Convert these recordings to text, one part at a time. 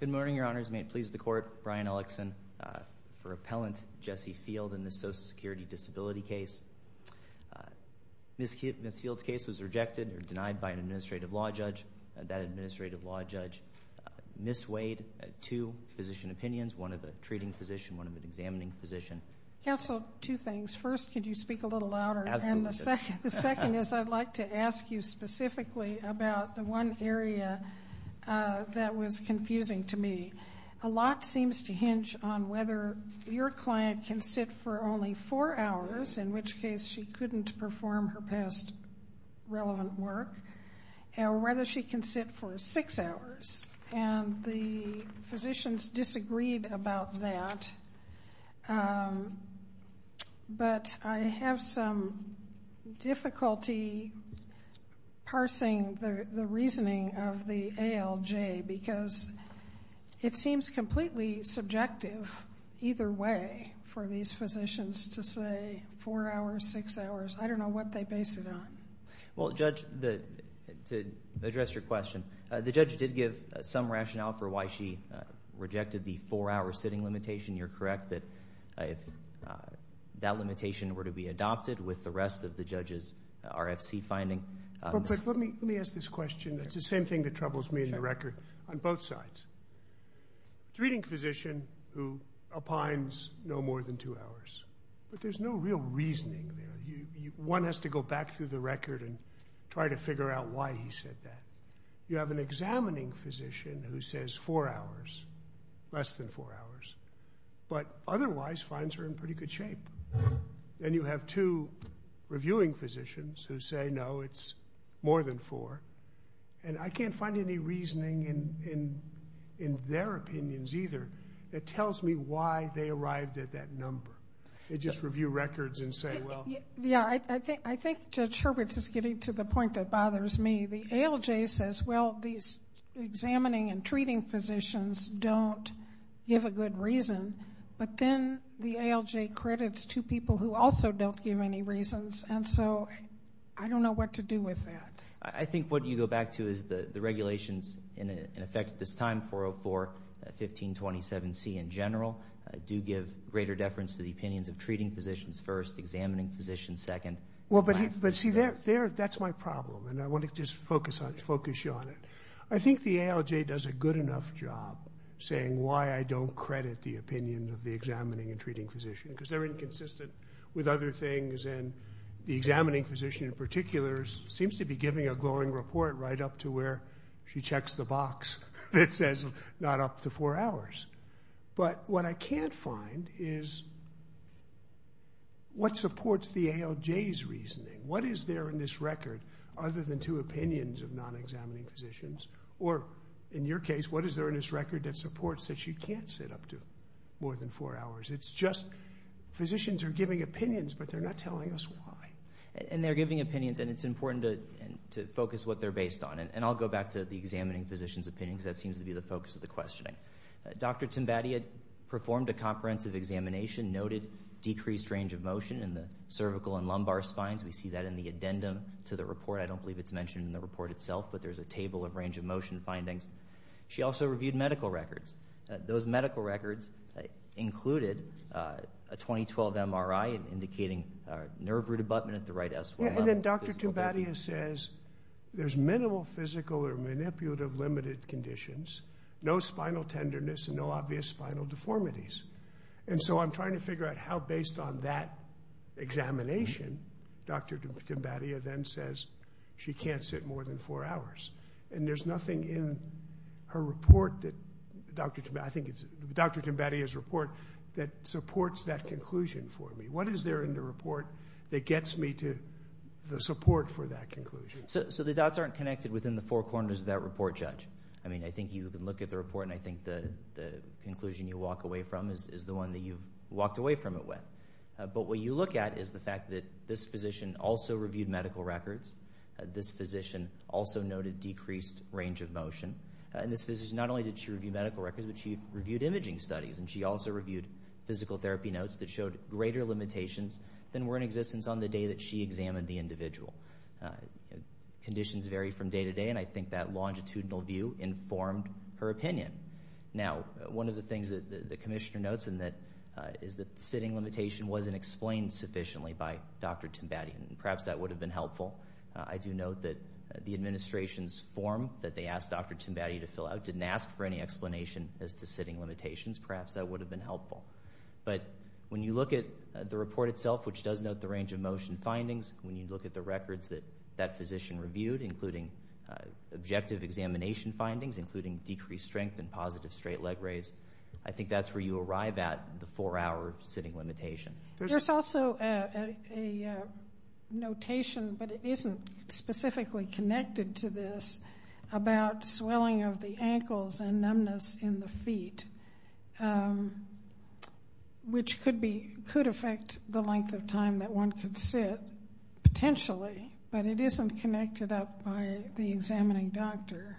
Good morning, Your Honors. May it please the Court, Brian Ellickson, for Appellant Jesse Field in this Social Security Disability case. Ms. Field's case was rejected or denied by an administrative law judge. That administrative law judge misweighed two physician opinions, one of the treating physician, one of the examining physician. Counsel, two things. First, could you speak a little louder? Absolutely. And the second is I'd like to ask you specifically about the one area that was confusing to me. A lot seems to hinge on whether your client can sit for only four hours, in which case she couldn't perform her past relevant work, or whether she can sit for six hours. And the physicians disagreed about that. But I have some difficulty parsing the reasoning of the ALJ, because it seems completely subjective either way for these physicians to say four hours, six hours. I don't know what they base it on. Well, Judge, to address your question, the judge did give some rationale for why she rejected the four-hour sitting limitation. You're correct that if that limitation were to be adopted with the rest of the judge's RFC finding. But let me ask this question. It's the same thing that troubles me in the record on both sides. The treating physician who opines no more than two hours, but there's no real reasoning there. One has to go back through the record and try to figure out why he said that. You have an examining physician who says four hours, but otherwise finds her in pretty good shape. And you have two reviewing physicians who say, no, it's more than four. And I can't find any reasoning in their opinions either that tells me why they arrived at that number. They just review records and say, well. Yeah. I think Judge Hurwitz is getting to the point that bothers me. The ALJ says, well, these examining and treating physicians don't give a good reason. But then the ALJ credits two people who also don't give any reasons. And so I don't know what to do with that. I think what you go back to is the regulations in effect at this time, 404, 1527C in general, do give greater deference to the opinions of treating physicians first, examining physicians second. Well, but see, that's my problem. And I want to just focus you on it. I think the ALJ does a good enough job saying why I don't credit the opinion of the examining and treating physician, because they're inconsistent with other things. And the examining physician in particular seems to be giving a glowing report right up to where she checks the box that says not up to four hours. But what I can't find is what supports the ALJ's reasoning. What is there in this record other than two opinions of non-examining physicians? Or in your case, what is there in this record that supports that she can't sit up to more than four hours? It's just physicians are giving opinions, but they're not telling us why. And they're giving opinions, and it's important to focus what they're based on. And I'll go back to the examining physician's opinion, because that seems to be the focus of the questioning. Dr. Timbati had performed a comprehensive examination, noted decreased range of motion in the cervical and lumbar spines. We see that in the addendum to the report. I don't believe it's mentioned in the report itself, but there's a table of range of motion findings. She also reviewed medical records. Those medical records included a 2012 MRI indicating nerve root abutment at the right S1 level. And then Dr. Timbati says there's minimal physical or manipulative limited conditions, no spinal tenderness, and no obvious spinal deformities. And so I'm trying to figure out how, based on that examination, Dr. Timbati then says she can't sit more than four hours. And there's nothing in her report that Dr. Timbati, I think it's Dr. Timbati's report that supports that conclusion for me. What is there in the report that gets me to the support for that conclusion? So the dots aren't connected within the four corners of that report, Judge. I mean, I think you can look at the report, and I think the conclusion you walk away from is the one that you've walked away from it with. But what you look at is the fact that this physician also reviewed medical records. This physician also noted decreased range of motion. And this physician, not only did she review medical records, but she reviewed imaging studies, and she also reviewed physical therapy notes that showed greater limitations than were in existence on the day that she examined the individual. Conditions vary from day to day, and I think that longitudinal view informed her opinion. Now, one of the things that the Commissioner notes is that the sitting limitation wasn't explained sufficiently by Dr. Timbati, and perhaps that would have been helpful. I do note that the administration's form that they asked Dr. Timbati to fill out didn't ask for any explanation as to sitting limitations. Perhaps that would have been helpful. But when you look at the report itself, which does note the range of motion findings, when you look at the records that that physician reviewed, including objective examination findings, including decreased strength and positive straight leg raise, I think that's where you arrive at the four-hour sitting limitation. There's also a notation, but it isn't specifically connected to this, about swelling of the ankles and numbness in the feet, which could affect the length of time that one could sit, potentially, but it isn't connected up by the examining doctor.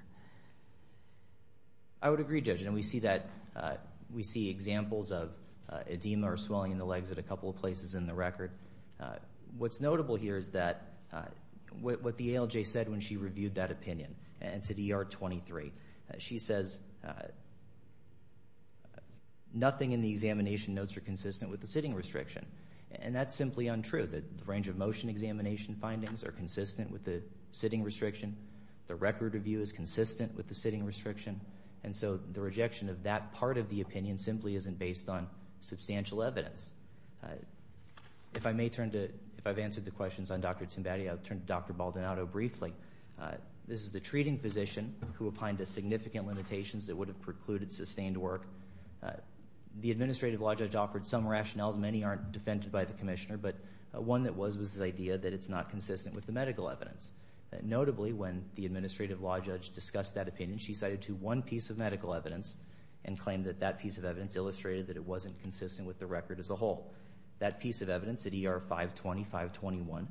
I would agree, Judge, and we see that, we see examples of edema or swelling in the legs at a couple of places in the record. What's notable here is that what the ALJ said when she reviewed that opinion, and it's at ER 23, she says nothing in the examination notes are consistent with the sitting restriction, and that's simply untrue. The range of motion examination findings are consistent with the sitting restriction. The record review is consistent with the sitting restriction, and so the rejection of that part of the opinion simply isn't based on substantial evidence. If I may turn to, if I've answered the questions on Dr. Timbatti, I'll turn to Dr. Baldonado briefly. This is the treating physician who opined to significant limitations that would have precluded sustained work. The administrative law judge offered some rationales. Many aren't defended by the commissioner, but one that was, was the idea that it's not consistent with the medical evidence. Notably, when the administrative law judge discussed that opinion, she cited to one piece of medical evidence and claimed that that piece of evidence illustrated that it wasn't consistent with the record as a whole. That piece of evidence at ER 520-521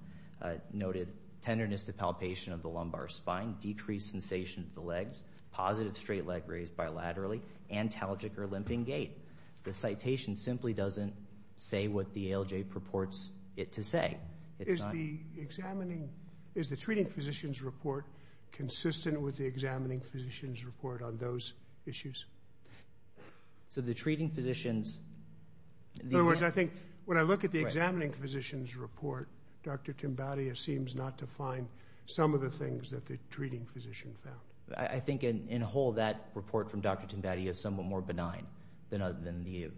noted tenderness to palpation of the lumbar spine, decreased sensation of the legs, positive straight leg raised bilaterally, antalgic or limping gait. The citation simply doesn't say what the ALJ purports it to say. Is the examining, is the treating physician's report consistent with the examining physician's report on those issues? So the treating physician's... In other words, I think when I look at the examining physician's report, Dr. Timbatti seems not to find some of the things that the treating physician found. I think in whole that report from Dr. Timbatti is somewhat more benign than the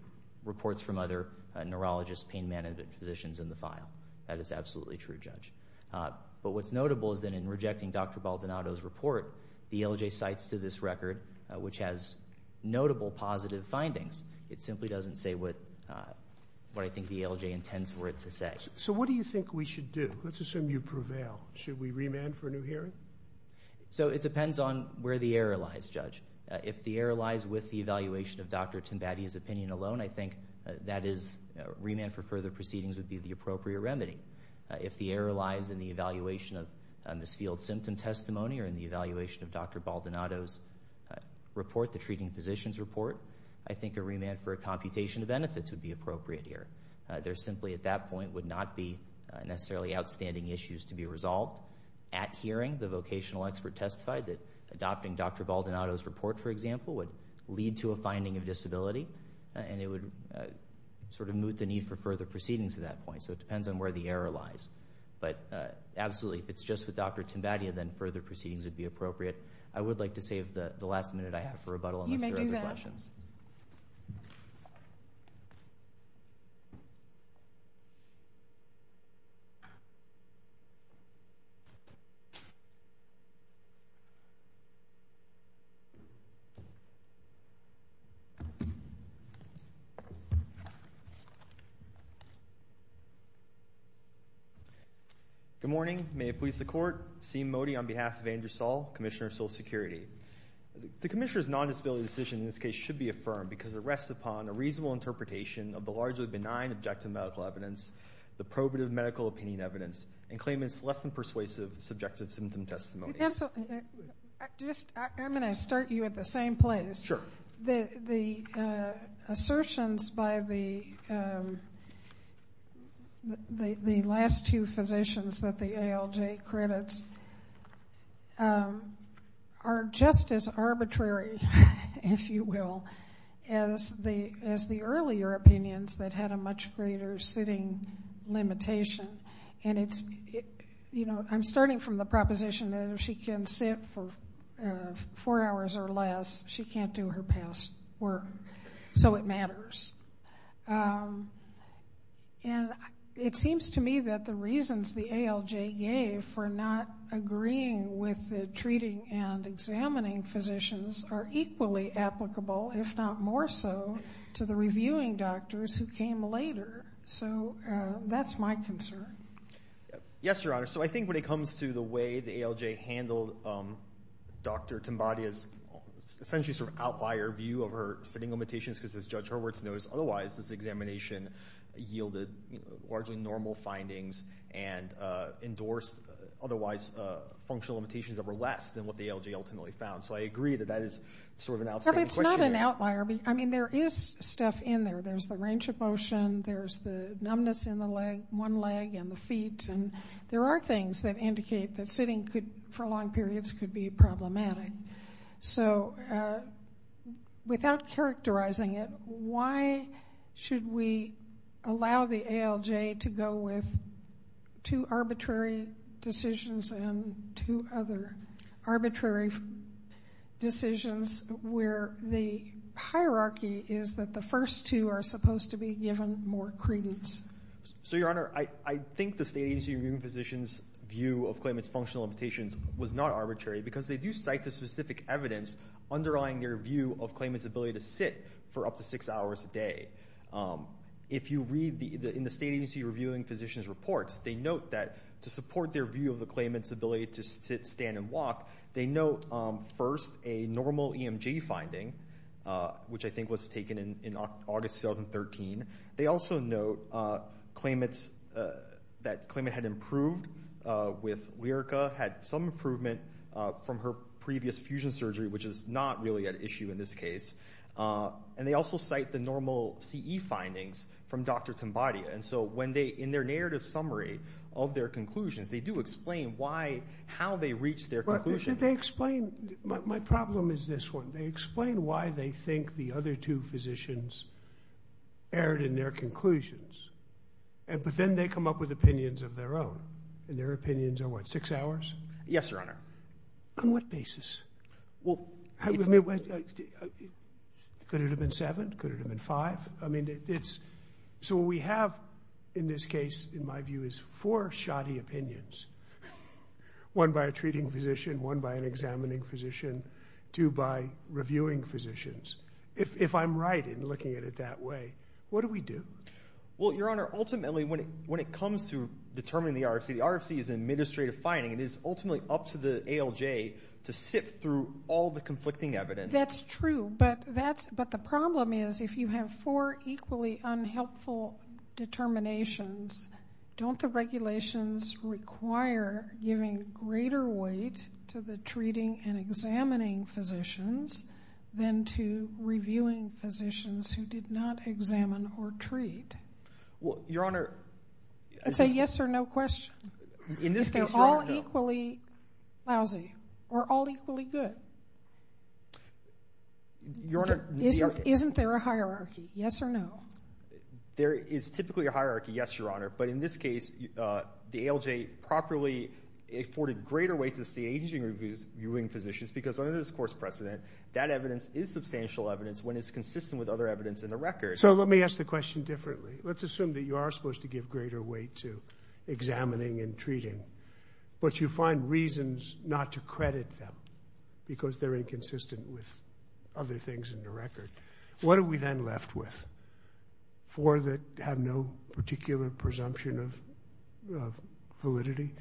reports from other neurologists, pain management physicians in the file. That is absolutely true, Judge. But what's notable is that in rejecting Dr. Baldonado's report, the ALJ cites to this record which has notable positive findings. It simply doesn't say what I think the ALJ intends for it to say. So what do you think we should do? Let's assume you prevail. Should we remand for a new hearing? So it depends on where the error lies, Judge. If the error lies with the evaluation of Dr. Baldonado's report, that is, remand for further proceedings would be the appropriate remedy. If the error lies in the evaluation of Ms. Field's symptom testimony or in the evaluation of Dr. Baldonado's report, the treating physician's report, I think a remand for a computation of benefits would be appropriate here. There simply at that point would not be necessarily outstanding issues to be resolved. At hearing, the vocational expert testified that adopting Dr. Baldonado's report, for example, would lead to a finding of disability, and it would sort of moot the need for further proceedings at that point. So it depends on where the error lies. But absolutely, if it's just with Dr. Timbadia, then further proceedings would be appropriate. I would like to save the last minute I have for rebuttal unless there are other questions. You may do that. Good morning. May it please the Court. Seem Modi on behalf of Andrew Saul, Commissioner of Social Security. The Commissioner's non-disability decision in this case should be affirmed because it rests upon a reasonable interpretation of the largely benign objective medical evidence, the probative medical opinion evidence, and claims less than persuasive subjective symptom testimony. Counsel, I'm going to start you at the same place. Sure. The assertions by the last two physicians that the ALJ credits are just as arbitrary, if you will, as the earlier opinions that had a much greater sitting limitation. And it's, you know, I'm starting from the proposition that if she can sit for four hours or less, she can't do her past work. So it matters. And it seems to me that the reasons the ALJ gave for not agreeing with the treating and examining physicians are equally applicable, if not more so, to the reviewing doctors who came later. So that's my concern. Yes, Your Honor. So I think when it comes to the way the ALJ handled Dr. Timbadia's essentially sort of outlier view of her sitting limitations, because as Judge Hurwitz knows, otherwise this examination yielded largely normal findings and endorsed otherwise functional limitations that were less than what the ALJ ultimately found. So I agree that that is sort of an outstanding question. Well, it's not an outlier. I mean, there is stuff in there. There's the range of motion. There's the numbness in the leg, one leg and the feet. And there are things that indicate that sitting for long periods could be problematic. So without characterizing it, why should we allow the ALJ to go with two arbitrary decisions and two other arbitrary decisions where the hierarchy is that the first two are supposed to be given more credence? So, Your Honor, I think the State Agency Reviewing Physicians' view of claimant's functional limitations was not arbitrary because they do cite the specific evidence underlying their view of claimant's ability to sit for up to six hours a day. If you read in the State Agency Reviewing Physicians' reports, they note that to support their view of the claimant's ability to sit, stand and walk, they note first a normal EMG finding, which I think was taken in August 2013. They also note that claimant had improved with Lyrica, had some improvement from her previous fusion surgery, which is not really an issue in this case. And they also cite the normal CE findings from Dr. Tambatia. And so when they, in their narrative summary of their conclusions, they do explain why, how they reached their conclusion. They explain, my problem is this one, they explain why they think the other two physicians erred in their conclusions. But then they come up with opinions of their own. And their opinions are what, six hours? Yes, Your Honor. On what basis? Well, it's... Could it have been seven? Could it have been five? I mean, it's, so what we have in this one by an examining physician, two by reviewing physicians. If I'm right in looking at it that way, what do we do? Well, Your Honor, ultimately when it comes to determining the RFC, the RFC is an administrative finding. It is ultimately up to the ALJ to sift through all the conflicting evidence. That's true. But that's, but the problem is if you have four equally unhelpful determinations, don't the regulations require giving greater weight to the treating and examining physicians than to reviewing physicians who did not examine or treat? Well, Your Honor... Say yes or no question. In this case, Your Honor... If they're all equally lousy or all equally good. Your Honor, the RFC... Isn't there a hierarchy? Yes or no? There is typically a hierarchy, yes, Your Honor. But in this case, the ALJ properly afforded greater weight to the agency reviewing physicians because under this course precedent, that evidence is substantial evidence when it's consistent with other evidence in the record. So let me ask the question differently. Let's assume that you are supposed to give greater weight to examining and treating, but you find reasons not to credit them because they're inconsistent with other things in the record. What are we then left with? Four that have no particular presumption of validity?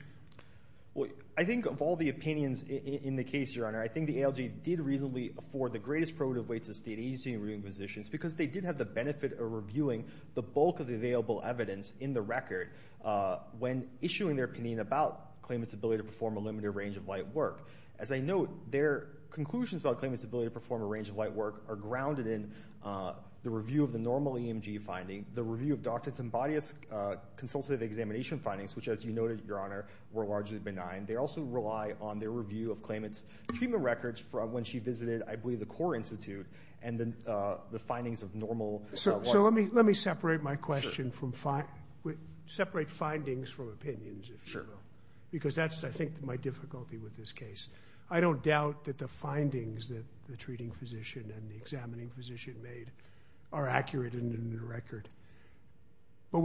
I think of all the opinions in the case, Your Honor, I think the ALJ did reasonably afford the greatest probative weight to the state agency reviewing physicians because they did have the benefit of reviewing the bulk of the available evidence in the record when issuing their opinion about claimants' ability to perform a limited range of light work. As I note, their conclusions about claimants' ability to perform a range of light work are the review of Dr. Timbadea's consultative examination findings, which, as you noted, Your Honor, were largely benign. They also rely on their review of claimants' treatment records from when she visited, I believe, the CORE Institute and the findings of normal light work. So let me separate my question from separate findings from opinions, if you will, because that's, I think, my difficulty with this case. I don't doubt that the findings that the treating physician and the examining physician made are accurate and in the record. But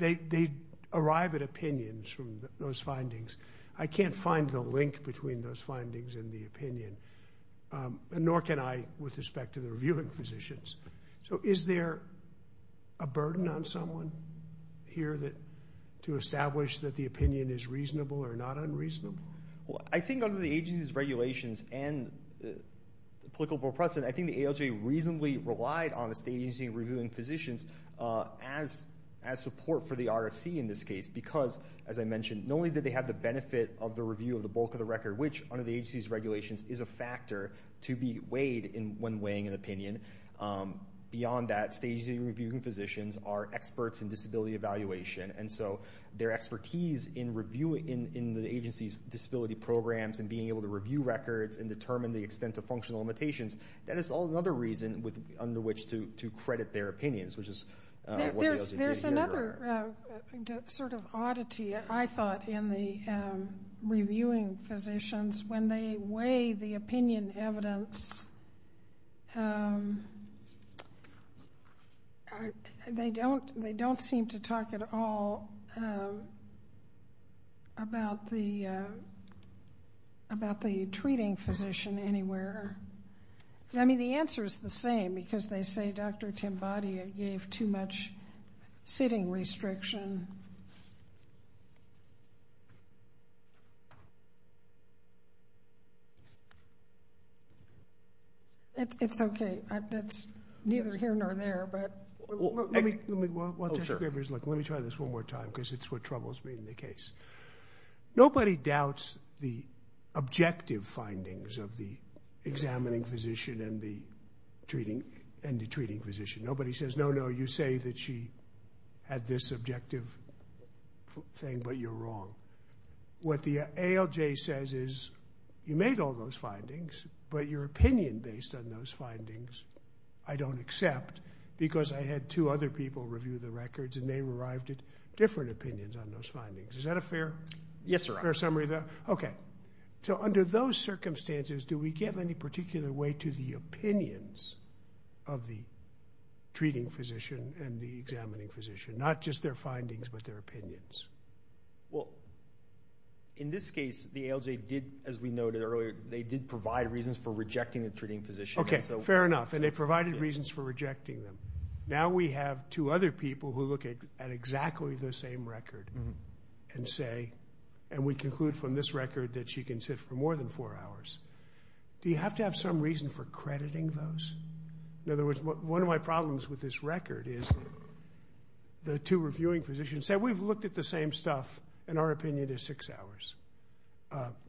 they arrive at opinions from those findings. I can't find the link between those findings and the opinion, nor can I with respect to the reviewing physicians. So is there a burden on someone here to establish that the opinion is reasonable or not unreasonable? Well, I think under the agency's regulations and the applicable precedent, I think the ALJ reasonably relied on the state agency reviewing physicians as support for the RFC in this case, because, as I mentioned, not only did they have the benefit of the review of the bulk of the record, which under the agency's regulations is a factor to be weighed when weighing an opinion. Beyond that, state agency reviewing physicians are experts in disability evaluation. And so their expertise in the agency's disability programs and being able to review records and other reasons under which to credit their opinions, which is what the ALJ did here. There's another sort of oddity, I thought, in the reviewing physicians. When they weigh the opinion evidence, they don't seem to talk at all about the treating physician anywhere. I mean, the answer is the same, because they say Dr. Timbadia gave too much sitting restriction. It's okay. That's neither here nor there, but... Well, let me try this one more time, because it's what troubles me in the case. Nobody doubts the objective findings of the examining physician and the treating physician. Nobody says, no, no, you say that she had this objective thing, but you're wrong. What the ALJ says is, you made all those findings, but your opinion based on those findings, I don't accept, because I had two other people review the records, and they arrived at different opinions on those findings. Is that a fair summary of that? Yes, sir. Okay. So under those circumstances, do we give any particular weight to the opinions of the treating physician and the examining physician, not just their findings, but their opinions? Well, in this case, the ALJ did, as we noted earlier, they did provide reasons for rejecting the treating physician. Okay, fair enough, and they provided reasons for rejecting them. Now we have two other people who look at exactly the same record. And say, and we conclude from this record that she can sit for more than four hours. Do you have to have some reason for crediting those? In other words, one of my problems with this record is, the two reviewing physicians say, we've looked at the same stuff, and our opinion is six hours.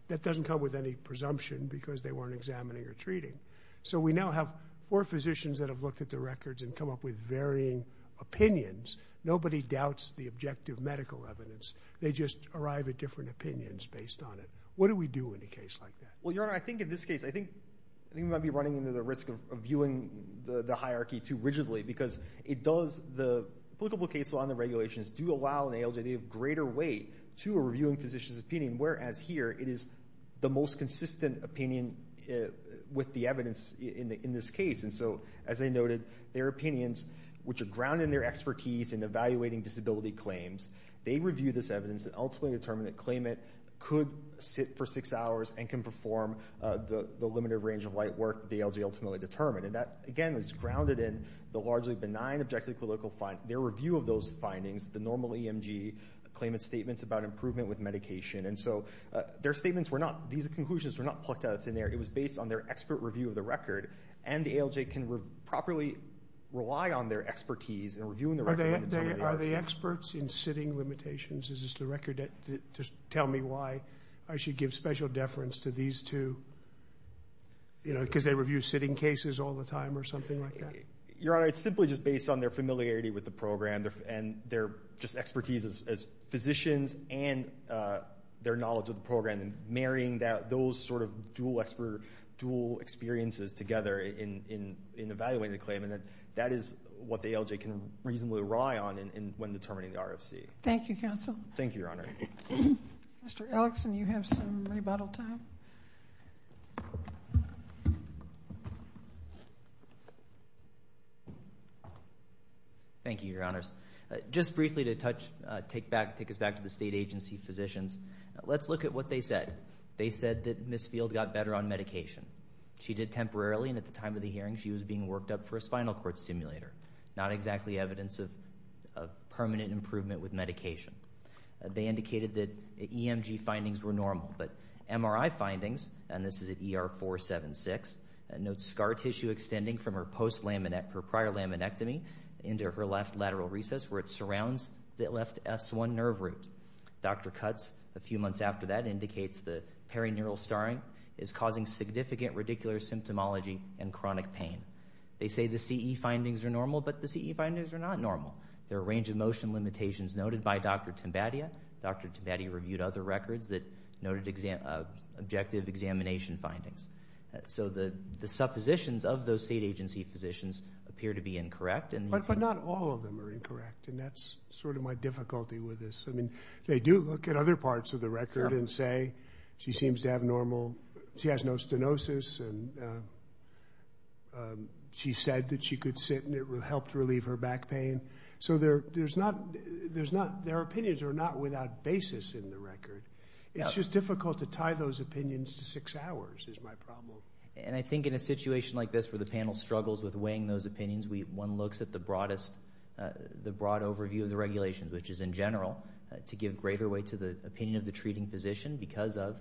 That doesn't come with any presumption, because they weren't examining or treating. So we now have four physicians that have looked at the records and come up with varying opinions. Nobody doubts the objective medical evidence. They just arrive at different opinions based on it. What do we do in a case like that? Well, Your Honor, I think in this case, I think we might be running into the risk of viewing the hierarchy too rigidly. Because it does, the applicable case law and the regulations do allow an ALJ to give greater weight to a reviewing physician's opinion. Whereas here, it is the most consistent opinion with the evidence in this case. And so, as I noted, their opinions, which are grounded in their expertise in evaluating disability claims, they review this evidence and ultimately determine that claimant could sit for six hours and can perform the limited range of light work the ALJ ultimately determined. And that, again, is grounded in the largely benign objective clinical findings, their review of those findings, the normal EMG claimant's statements about improvement with medication. And so, their statements were not, these conclusions were not plucked out of thin air. It was based on their expert review of the record. And the ALJ can properly rely on their expertise in reviewing the record. Are they experts in sitting limitations? Is this the record that just tell me why I should give special deference to these two? You know, because they review sitting cases all the time or something like that? Your Honor, it's simply just based on their familiarity with the program and their just expertise as physicians and their knowledge of the program. And marrying those sort of dual experiences together in evaluating the claim. That is what the ALJ can reasonably rely on when determining the RFC. Thank you, Counsel. Thank you, Your Honor. Mr. Ellickson, you have some rebuttal time. Thank you, Your Honors. Just briefly to touch, take us back to the state agency physicians. Let's look at what they said. They said that Ms. Field got better on medication. She did temporarily and at the time of the hearing, she was being worked up for a spinal cord stimulator. Not exactly evidence of permanent improvement with medication. They indicated that EMG findings were normal. But MRI findings, and this is at ER 476, note scar tissue extending from her prior laminectomy into her left lateral recess where it surrounds the left S1 nerve root. Dr. Cutts, a few months after that, indicates the perineural starring is causing significant radicular symptomology and chronic pain. They say the CE findings are normal, but the CE findings are not normal. There are a range of motion limitations noted by Dr. Timbadia. Dr. Timbadia reviewed other records that noted objective examination findings. So the suppositions of those state agency physicians appear to be incorrect. But not all of them are incorrect. And that's sort of my difficulty with this. I mean, they do look at other parts of the record and say, she seems to have normal, she has no stenosis, and she said that she could sit and it helped relieve her back pain. So there's not, there's not, their opinions are not without basis in the record. It's just difficult to tie those opinions to six hours is my problem. And I think in a situation like this where the panel struggles with weighing those opinions, one looks at the broadest, the broad overview of the regulations, which is in general, to give greater weight to the opinion of the treating physician, because of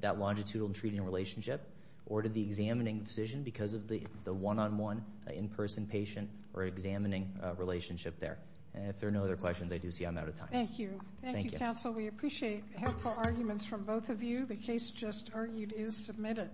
that longitudinal treating relationship, or to the examining physician because of the one-on-one in-person patient or examining relationship there. And if there are no other questions, I do see I'm out of time. Thank you. Thank you, counsel. We appreciate helpful arguments from both of you. The case just argued is submitted.